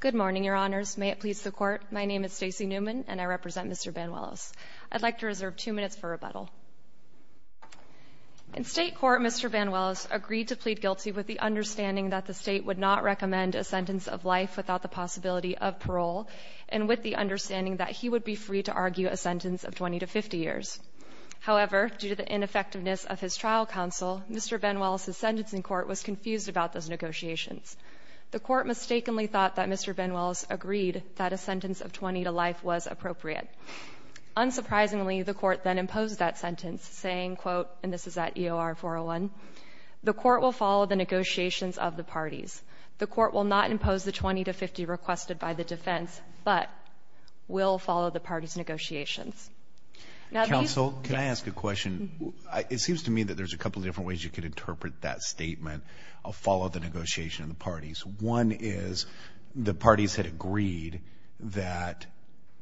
Good morning, Your Honors. May it please the Court, my name is Stacey Newman and I represent Mr. Banuelos. I'd like to reserve two minutes for rebuttal. In state court, Mr. Banuelos agreed to plead guilty with the understanding that the state would not recommend a sentence of life without the possibility of parole and with the understanding that he would be free to argue a sentence of 20 to 50 years. However, due to the ineffectiveness of his trial counsel, Mr. Banuelos' sentencing court was confused about those negotiations. The court mistakenly thought that Mr. Banuelos agreed that a sentence of 20 to life was appropriate. Unsurprisingly, the court then imposed that sentence, saying, quote, and this is at EOR 401, the court will follow the negotiations of the parties. The court will not impose the 20 to 50 requested by the defense, but will follow the parties' negotiations. Counsel, can I ask a question? It seems to me that there's a couple of different ways you could interpret that statement, I'll follow the negotiation of the parties. One is the parties had agreed that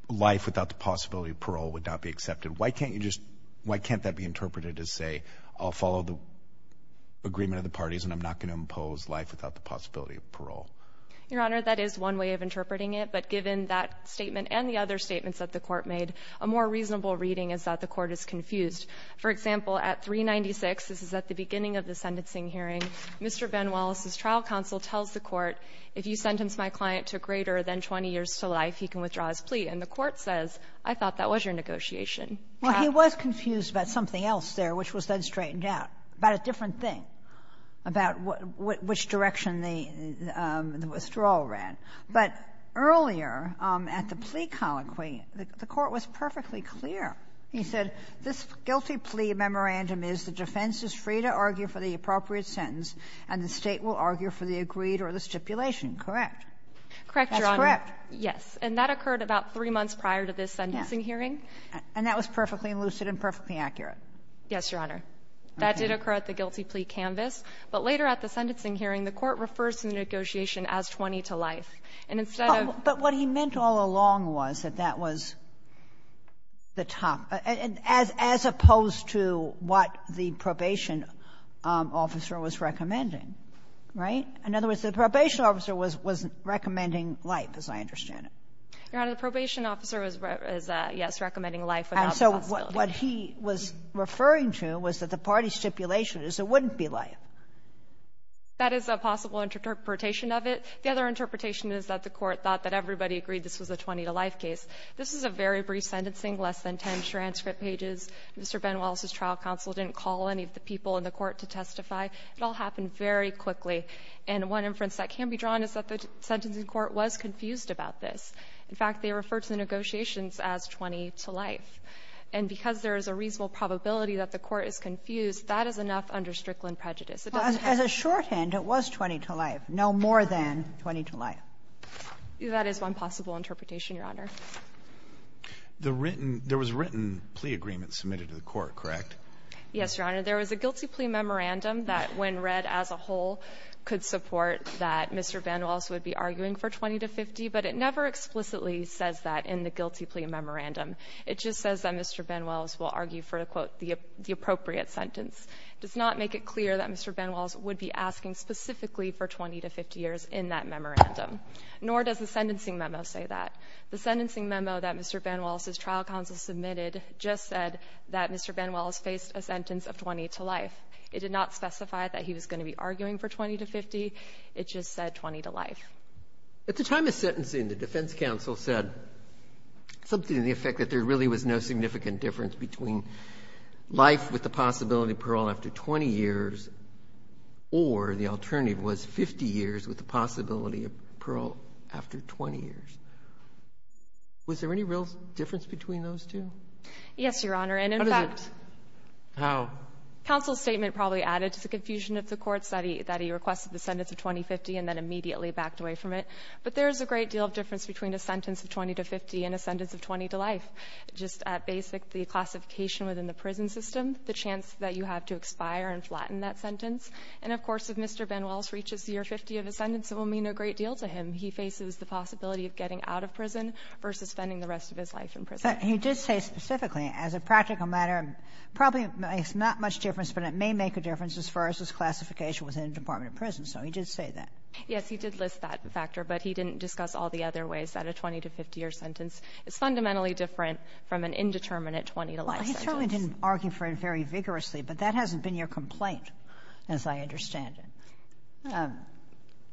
life without the possibility of parole would not be accepted. Why can't that be interpreted as, say, I'll follow the agreement of the parties and I'm not going to impose life without the possibility of parole? Your Honor, that is one way of interpreting it, but given that statement and the other statements that the court made, a more reasonable reading is that the court is confused. For example, at 396, this is at the beginning of the sentencing hearing, Mr. Banuelos' trial counsel tells the court, if you sentence my client to greater than 20 years to life, he can withdraw his plea. And the court says, I thought that was your negotiation. Well, he was confused about something else there, which was then straightened out, about a different thing, about which direction the withdrawal ran. But earlier at the plea colloquy, the court was perfectly clear. He said, this guilty plea memorandum is the defense is free to argue for the appropriate sentence, and the State will argue for the agreed or the stipulation. That's correct. Correct, Your Honor. Yes. And that occurred about three months prior to this sentencing hearing. And that was perfectly lucid and perfectly accurate? Yes, Your Honor. That did occur at the guilty plea canvas. But later at the sentencing hearing, the court refers to the negotiation as 20 to life. And instead of the 20 to life, it was 20 to life. But what he meant all along was that that was the top, as opposed to what the probation officer was recommending. Right? In other words, the probation officer was recommending life, as I understand it. Your Honor, the probation officer was, yes, recommending life without responsibility. What he was referring to was that the party stipulation is it wouldn't be life. That is a possible interpretation of it. The other interpretation is that the court thought that everybody agreed this was a 20 to life case. This is a very brief sentencing, less than ten transcript pages. Mr. Ben Wallace's trial counsel didn't call any of the people in the court to testify. It all happened very quickly. And one inference that can be drawn is that the sentencing court was confused about this. In fact, they referred to the negotiations as 20 to life. And because there is a reasonable probability that the court is confused, that is enough under Strickland prejudice. Sotomayor, as a shorthand, it was 20 to life, no more than 20 to life. That is one possible interpretation, Your Honor. The written — there was a written plea agreement submitted to the court, correct? Yes, Your Honor. There was a guilty plea memorandum that, when read as a whole, could support that Mr. Ben Wallace would be arguing for 20 to 50, but it never explicitly says that in the guilty plea memorandum. It just says that Mr. Ben Wallace will argue for, to quote, the appropriate sentence. It does not make it clear that Mr. Ben Wallace would be asking specifically for 20 to 50 years in that memorandum, nor does the sentencing memo say that. The sentencing memo that Mr. Ben Wallace's trial counsel submitted just said that Mr. Ben Wallace faced a sentence of 20 to life. It did not specify that he was going to be arguing for 20 to 50. It just said 20 to life. At the time of sentencing, the defense counsel said something to the effect that there really was no significant difference between life with the possibility of parole after 20 years or the alternative was 50 years with the possibility of parole after 20 years. Was there any real difference between those two? Yes, Your Honor. And, in fact — How does it — how? Counsel's statement probably added to the confusion of the Court's that he requested the sentence of 20 to 50 and then immediately backed away from it. But there is a great deal of difference between a sentence of 20 to 50 and a sentence of 20 to life, just at basic, the classification within the prison system, the chance that you have to expire and flatten that sentence. And, of course, if Mr. Ben Wallace reaches the year 50 of his sentence, it will mean a great deal to him. He faces the possibility of getting out of prison versus spending the rest of his life in prison. But he did say specifically, as a practical matter, probably makes not much difference, but it may make a difference as far as his classification within a department of prison. So he did say that. Yes, he did list that factor, but he didn't discuss all the other ways that a 20 to 50-year sentence is fundamentally different from an indeterminate 20 to life sentence. Well, he certainly didn't argue for it very vigorously, but that hasn't been your complaint, as I understand it.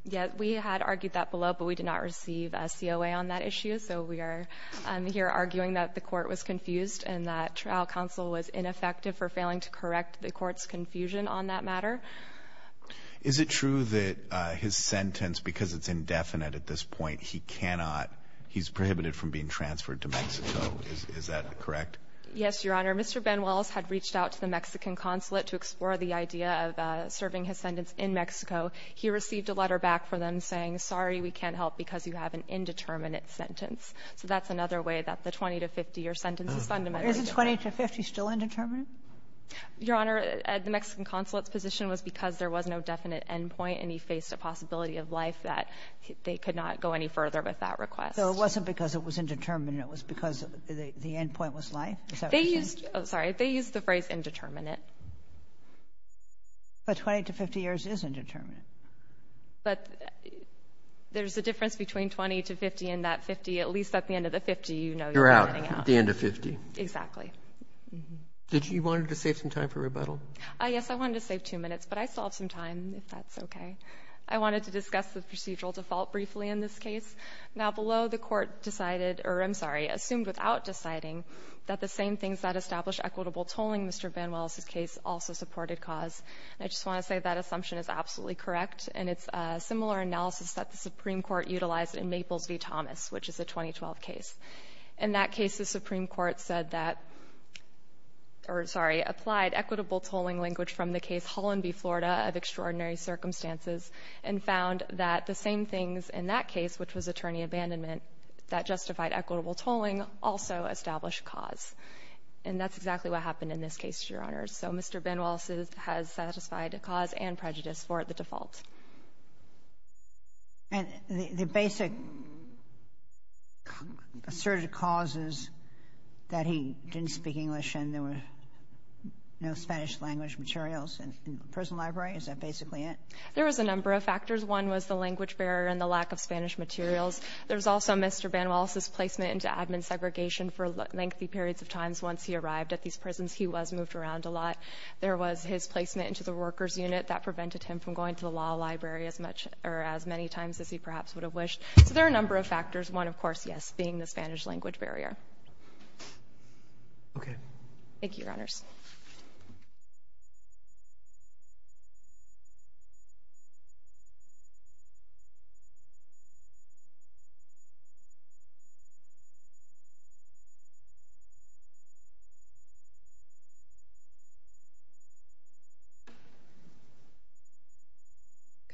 Yes, we had argued that below, but we did not receive a COA on that issue. So we are here arguing that the Court was confused and that trial counsel was ineffective for failing to correct the Court's confusion on that matter. Is it true that his sentence, because it's indefinite at this point, he cannot he's prohibited from being transferred to Mexico? Is that correct? Yes, Your Honor. Mr. Ben Wallace had reached out to the Mexican consulate to explore the idea of serving his sentence in Mexico. He received a letter back from them saying, sorry, we can't help because you have an indeterminate sentence. So that's another way that the 20 to 50-year sentence is fundamentally different. But isn't 20 to 50 still indeterminate? Your Honor, the Mexican consulate's position was because there was no definite end point and he faced a possibility of life that they could not go any further with that request. So it wasn't because it was indeterminate. It was because the end point was life? Is that what you're saying? They used the phrase indeterminate. But 20 to 50 years is indeterminate. But there's a difference between 20 to 50 and that 50, at least at the end of the 50, you know you're getting out. You're out at the end of 50. Exactly. Did you want to save some time for rebuttal? Yes, I wanted to save two minutes, but I still have some time, if that's okay. I wanted to discuss the procedural default briefly in this case. Now, below, the Court decided or, I'm sorry, assumed without deciding that the same things that established equitable tolling in Mr. Ben Wallace's case also supported cause. I just want to say that assumption is absolutely correct, and it's a similar analysis that the Supreme Court utilized in Maples v. Thomas, which is a 2012 case. In that case, the Supreme Court said that or, sorry, applied equitable tolling language from the case Hollanby, Florida, of extraordinary circumstances and found that the same things in that case, which was attorney abandonment, that justified equitable tolling also established cause. And that's exactly what happened in this case, Your Honors. So Mr. Ben Wallace has satisfied cause and prejudice for the default. And the basic asserted causes that he didn't speak English and there were no Spanish language materials in the prison library, is that basically it? There was a number of factors. One was the language barrier and the lack of Spanish materials. There was also Mr. Ben Wallace's placement into admin segregation for lengthy periods of times. There was his placement into the workers' unit. That prevented him from going to the law library as much or as many times as he perhaps would have wished. So there are a number of factors, one, of course, yes, being the Spanish language Roberts. Okay. Thank you, Your Honors.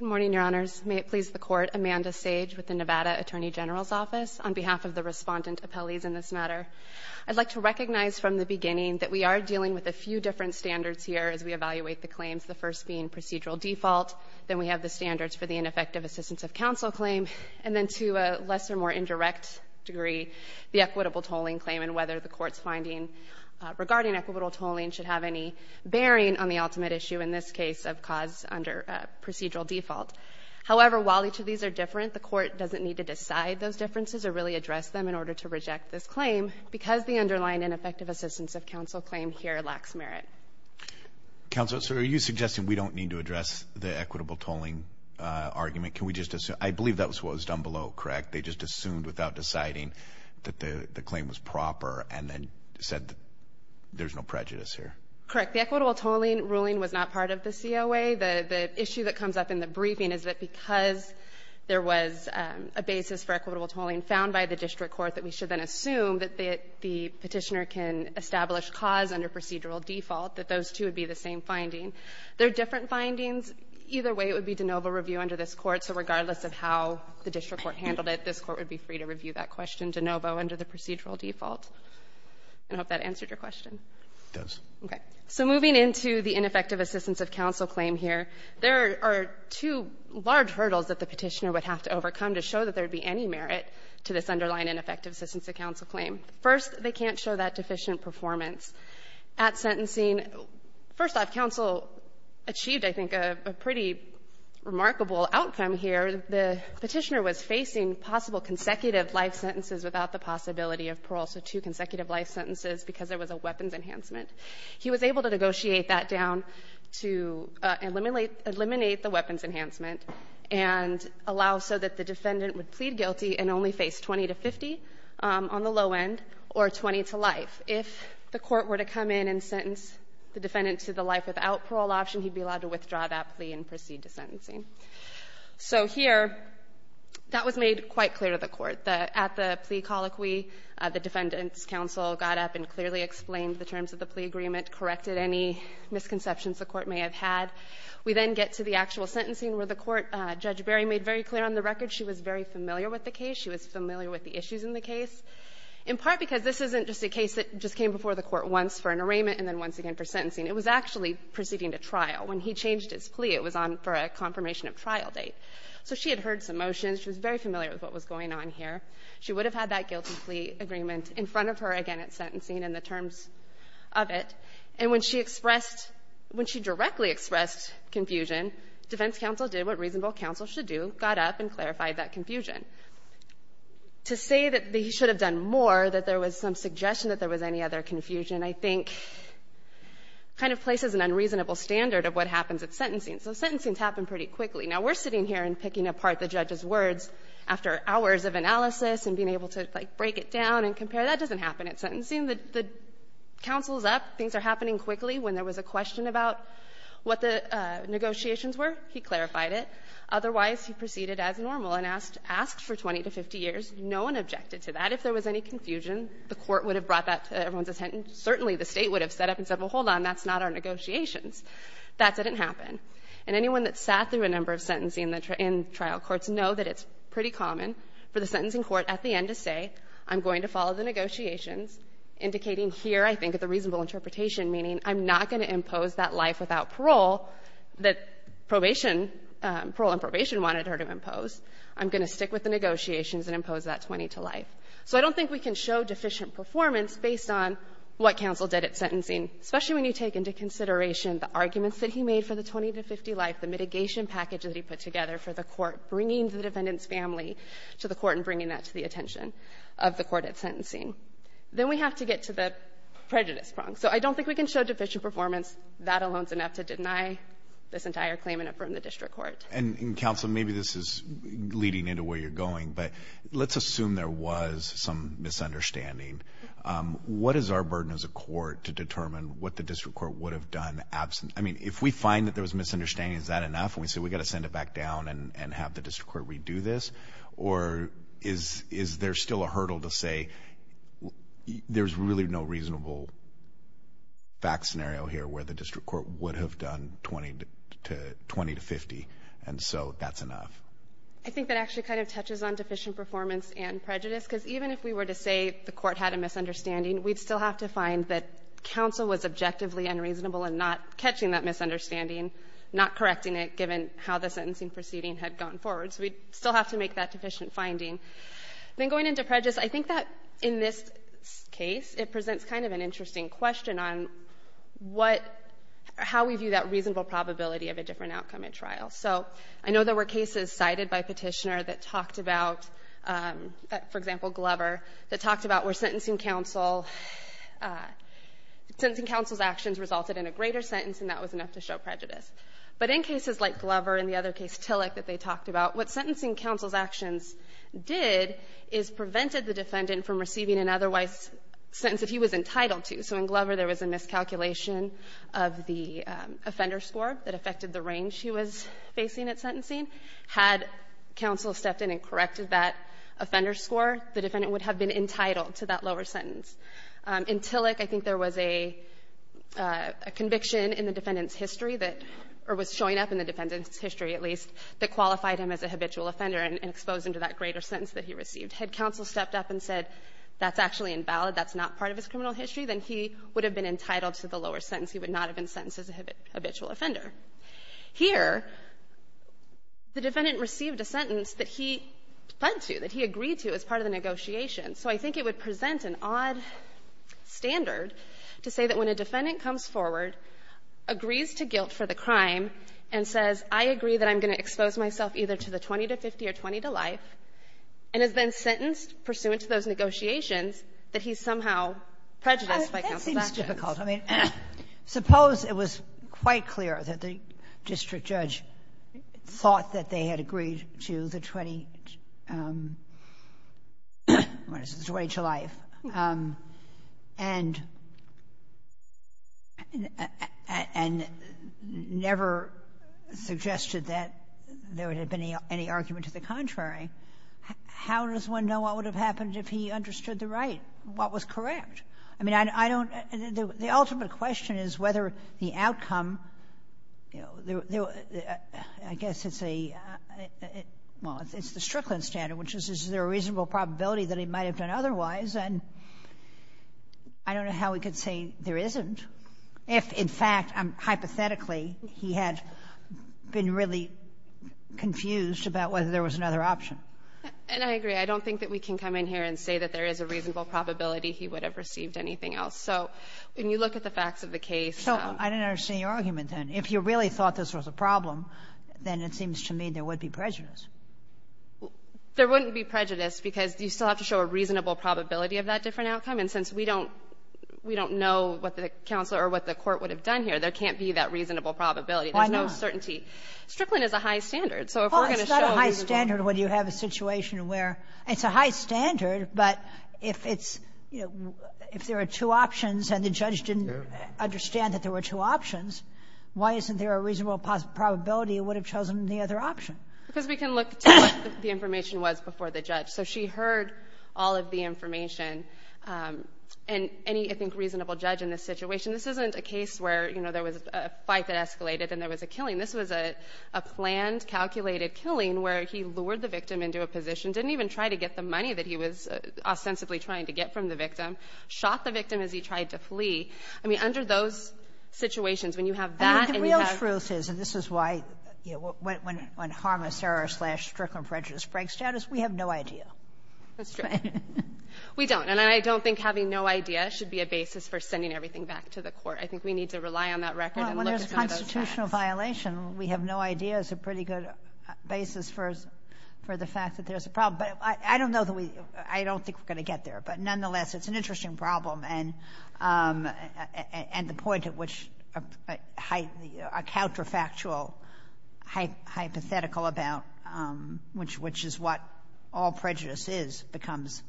Good morning, Your Honors. May it please the Court, Amanda Sage with the Nevada Attorney General's Office. On behalf of the respondent appellees in this matter, I'd like to recognize from the beginning that we are dealing with a few different standards here as we evaluate the claims, the first being procedural default. Then we have the standards for the ineffective assistance of counsel claim. And then to a less or more indirect degree, the equitable tolling claim and whether the bearing on the ultimate issue in this case of cause under procedural default. However, while each of these are different, the Court doesn't need to decide those differences or really address them in order to reject this claim because the underlying ineffective assistance of counsel claim here lacks merit. Counsel, so are you suggesting we don't need to address the equitable tolling argument? Can we just assume? I believe that was what was done below, correct? They just assumed without deciding that the claim was proper and then said there's no prejudice here. Correct. The equitable tolling ruling was not part of the COA. The issue that comes up in the briefing is that because there was a basis for equitable tolling found by the district court that we should then assume that the Petitioner can establish cause under procedural default, that those two would be the same finding. They're different findings. Either way, it would be de novo review under this Court. So regardless of how the district court handled it, this Court would be free to review that question de novo under the procedural default. I hope that answered your question. It does. Okay. So moving into the ineffective assistance of counsel claim here, there are two large hurdles that the Petitioner would have to overcome to show that there would be any merit to this underlying ineffective assistance of counsel claim. First, they can't show that deficient performance at sentencing. First off, counsel achieved, I think, a pretty remarkable outcome here. The Petitioner was facing possible consecutive life sentences without the possibility of parole, so two consecutive life sentences because there was a weapons enhancement. He was able to negotiate that down to eliminate the weapons enhancement and allow so that the defendant would plead guilty and only face 20 to 50 on the low end or 20 to life. If the Court were to come in and sentence the defendant to the life without parole option, he'd be allowed to withdraw that plea and proceed to sentencing. So here, that was made quite clear to the Court. At the plea colloquy, the defendant's counsel got up and clearly explained the terms of the plea agreement, corrected any misconceptions the Court may have had. We then get to the actual sentencing where the Court, Judge Berry made very clear on the record she was very familiar with the case. She was familiar with the issues in the case, in part because this isn't just a case that just came before the Court once for an arraignment and then once again for sentencing. It was actually proceeding to trial. When he changed his plea, it was on for a confirmation of trial date. So she had heard some motions. She was very familiar with what was going on here. She would have had that guilty plea agreement in front of her again at sentencing and the terms of it. And when she expressed, when she directly expressed confusion, defense counsel did what reasonable counsel should do, got up and clarified that confusion. To say that they should have done more, that there was some suggestion that there was any other confusion, I think kind of places an unreasonable standard of what happens at sentencing. So sentencings happen pretty quickly. Now, we're sitting here and picking apart the judge's words after hours of analysis and being able to, like, break it down and compare. That doesn't happen at sentencing. The counsel is up. Things are happening quickly. When there was a question about what the negotiations were, he clarified it. Otherwise, he proceeded as normal and asked for 20 to 50 years. No one objected to that. But if there was any confusion, the Court would have brought that to everyone's attention. Certainly, the State would have set up and said, well, hold on, that's not our negotiations. That didn't happen. And anyone that sat through a number of sentencing in trial courts know that it's pretty common for the sentencing court at the end to say, I'm going to follow the negotiations, indicating here, I think, the reasonable interpretation, meaning I'm not going to impose that life without parole that probation, parole and probation wanted her to impose. I'm going to stick with the negotiations and impose that 20 to life. So I don't think we can show deficient performance based on what counsel did at sentencing, especially when you take into consideration the arguments that he made for the 20 to 50 life, the mitigation package that he put together for the court, bringing the defendant's family to the court and bringing that to the attention of the court at sentencing. Then we have to get to the prejudice prong. So I don't think we can show deficient performance. That alone is enough to deny this entire claim and affirm the district court. And, counsel, maybe this is leading into where you're going, but let's assume there was some misunderstanding. What is our burden as a court to determine what the district court would have done? I mean, if we find that there was misunderstanding, is that enough? And we say we've got to send it back down and have the district court redo this? Or is there still a hurdle to say there's really no reasonable fact scenario here where the district court would have done 20 to 50 and so that's enough? I think that actually kind of touches on deficient performance and prejudice because even if we were to say the court had a misunderstanding, we'd still have to find that counsel was objectively unreasonable in not catching that misunderstanding, not correcting it given how the sentencing proceeding had gone forward. So we'd still have to make that deficient finding. Then going into prejudice, I think that in this case it presents kind of an how we view that reasonable probability of a different outcome in trial. So I know there were cases cited by Petitioner that talked about, for example, Glover, that talked about where sentencing counsel's actions resulted in a greater sentence and that was enough to show prejudice. But in cases like Glover and the other case, Tillich, that they talked about, what sentencing counsel's actions did is prevented the defendant from receiving an otherwise sentence that he was entitled to. So in Glover, there was a miscalculation of the offender score that affected the range he was facing at sentencing. Had counsel stepped in and corrected that offender score, the defendant would have been entitled to that lower sentence. In Tillich, I think there was a conviction in the defendant's history that or was showing up in the defendant's history, at least, that qualified him as a habitual offender and exposed him to that greater sentence that he received. Had counsel stepped up and said that's actually invalid, that's not part of his criminal history, then he would have been entitled to the lower sentence. He would not have been sentenced as a habitual offender. Here, the defendant received a sentence that he pled to, that he agreed to as part of the negotiation. So I think it would present an odd standard to say that when a defendant comes forward, agrees to guilt for the crime, and says, I agree that I'm going to expose myself either to the 20 to 50 or 20 to life, and has been sentenced pursuant to those prejudices by counsel that chance. Kagan. I mean, that seems difficult. I mean, suppose it was quite clear that the district judge thought that they had agreed to the 20 to life and never suggested that there had been any argument to the contrary. How does one know what would have happened if he understood the right, what was correct? I mean, I don't — the ultimate question is whether the outcome, you know, I guess it's a — well, it's the Strickland standard, which is, is there a reasonable probability that he might have done otherwise? And I don't know how we could say there isn't if, in fact, hypothetically, he had been really confused about whether there was another option. And I agree. I don't think that we can come in here and say that there is a reasonable probability he would have received anything else. So when you look at the facts of the case — So I don't understand your argument, then. If you really thought this was a problem, then it seems to me there would be prejudice. There wouldn't be prejudice because you still have to show a reasonable probability of that different outcome. And since we don't know what the counselor or what the court would have done here, there can't be that reasonable probability. Why not? There's no certainty. Strickland is a high standard. So if we're going to show — Oh, it's not a high standard when you have a situation where — it's a high standard, but if it's — if there are two options and the judge didn't understand that there were two options, why isn't there a reasonable probability he would have chosen the other option? Because we can look to what the information was before the judge. So she heard all of the information. And any, I think, reasonable judge in this situation — this isn't a case where, you know, there was a fight that escalated and there was a killing. This was a planned, calculated killing where he lured the victim into a position, didn't even try to get the money that he was ostensibly trying to get from the victim, shot the victim as he tried to flee. I mean, under those situations, when you have that and you have — I mean, the real truth is, and this is why, you know, when harmless error slash Strickland prejudice breaks status, we have no idea. That's true. We don't. And I don't think having no idea should be a basis for sending everything back to the court. I think we need to rely on that record and look at some of those facts. Well, when there's a constitutional violation, we have no idea is a pretty good basis for the fact that there's a problem. But I don't know that we — I don't think we're going to get there. But nonetheless, it's an interesting problem. And the point at which a counterfactual hypothetical about which is what all prejudice is becomes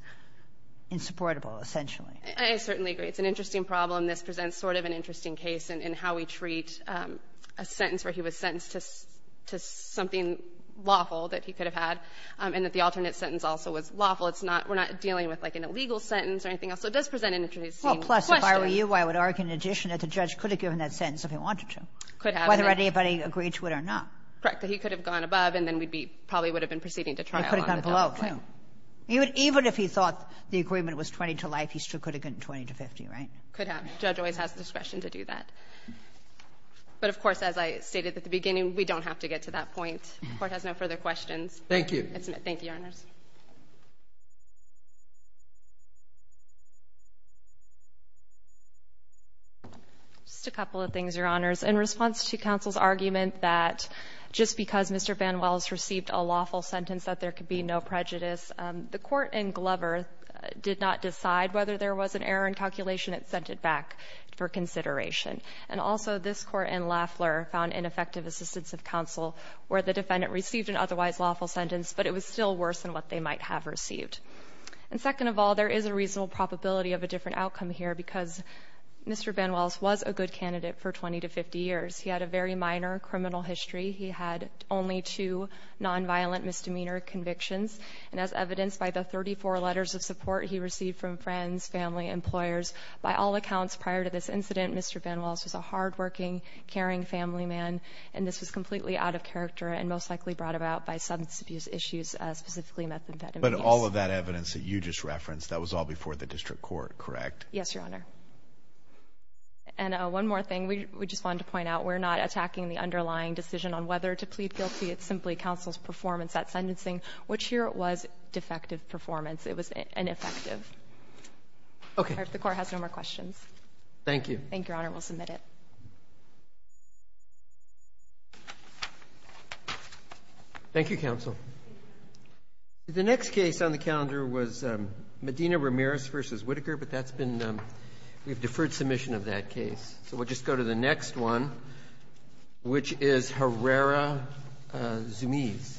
insupportable, essentially. I certainly agree. It's an interesting problem. This presents sort of an interesting case in how we treat a sentence where he was sentenced to something lawful that he could have had and that the alternate sentence also was lawful. It's not — we're not dealing with, like, an illegal sentence or anything else. So it does present an interesting question. Well, plus, if I were you, I would argue in addition that the judge could have given that sentence if he wanted to. Could have. Whether anybody agreed to it or not. Correct. He could have gone above, and then we'd be — probably would have been proceeding to trial on the double play. He could have gone below, too. Even if he thought the agreement was 20 to life, he still could have gotten 20 to 50, Could have. The judge always has discretion to do that. But of course, as I stated at the beginning, we don't have to get to that point. The Court has no further questions. Thank you. Thank you, Your Honors. Just a couple of things, Your Honors. In response to counsel's argument that just because Mr. Van Wells received a lawful sentence that there could be no prejudice, the Court in Glover did not decide whether there was an error in calculation. It sent it back for consideration. And also, this Court in Lafleur found ineffective assistance of counsel where the defendant received an otherwise lawful sentence, but it was still worse than what they might have received. And second of all, there is a reasonable probability of a different outcome here because Mr. Van Wells was a good candidate for 20 to 50 years. He had a very minor criminal history. He had only two nonviolent misdemeanor convictions. And as evidenced by the 34 letters of support he received from friends, family, employers, by all accounts prior to this incident, Mr. Van Wells was a hardworking, caring family man, and this was completely out of character and most likely brought about by substance abuse issues, specifically methamphetamines. But all of that evidence that you just referenced, that was all before the district court, correct? Yes, Your Honor. And one more thing we just wanted to point out. We're not attacking the underlying decision on whether to plead guilty. It's simply counsel's performance at sentencing, which here was defective performance. It was ineffective. Okay. The court has no more questions. Thank you. Thank you, Your Honor. We'll submit it. Thank you, counsel. The next case on the calendar was Medina Ramirez v. Whitaker, but that's been we've deferred submission of that case. So we'll just go to the next one, which is Herrera Zumiez.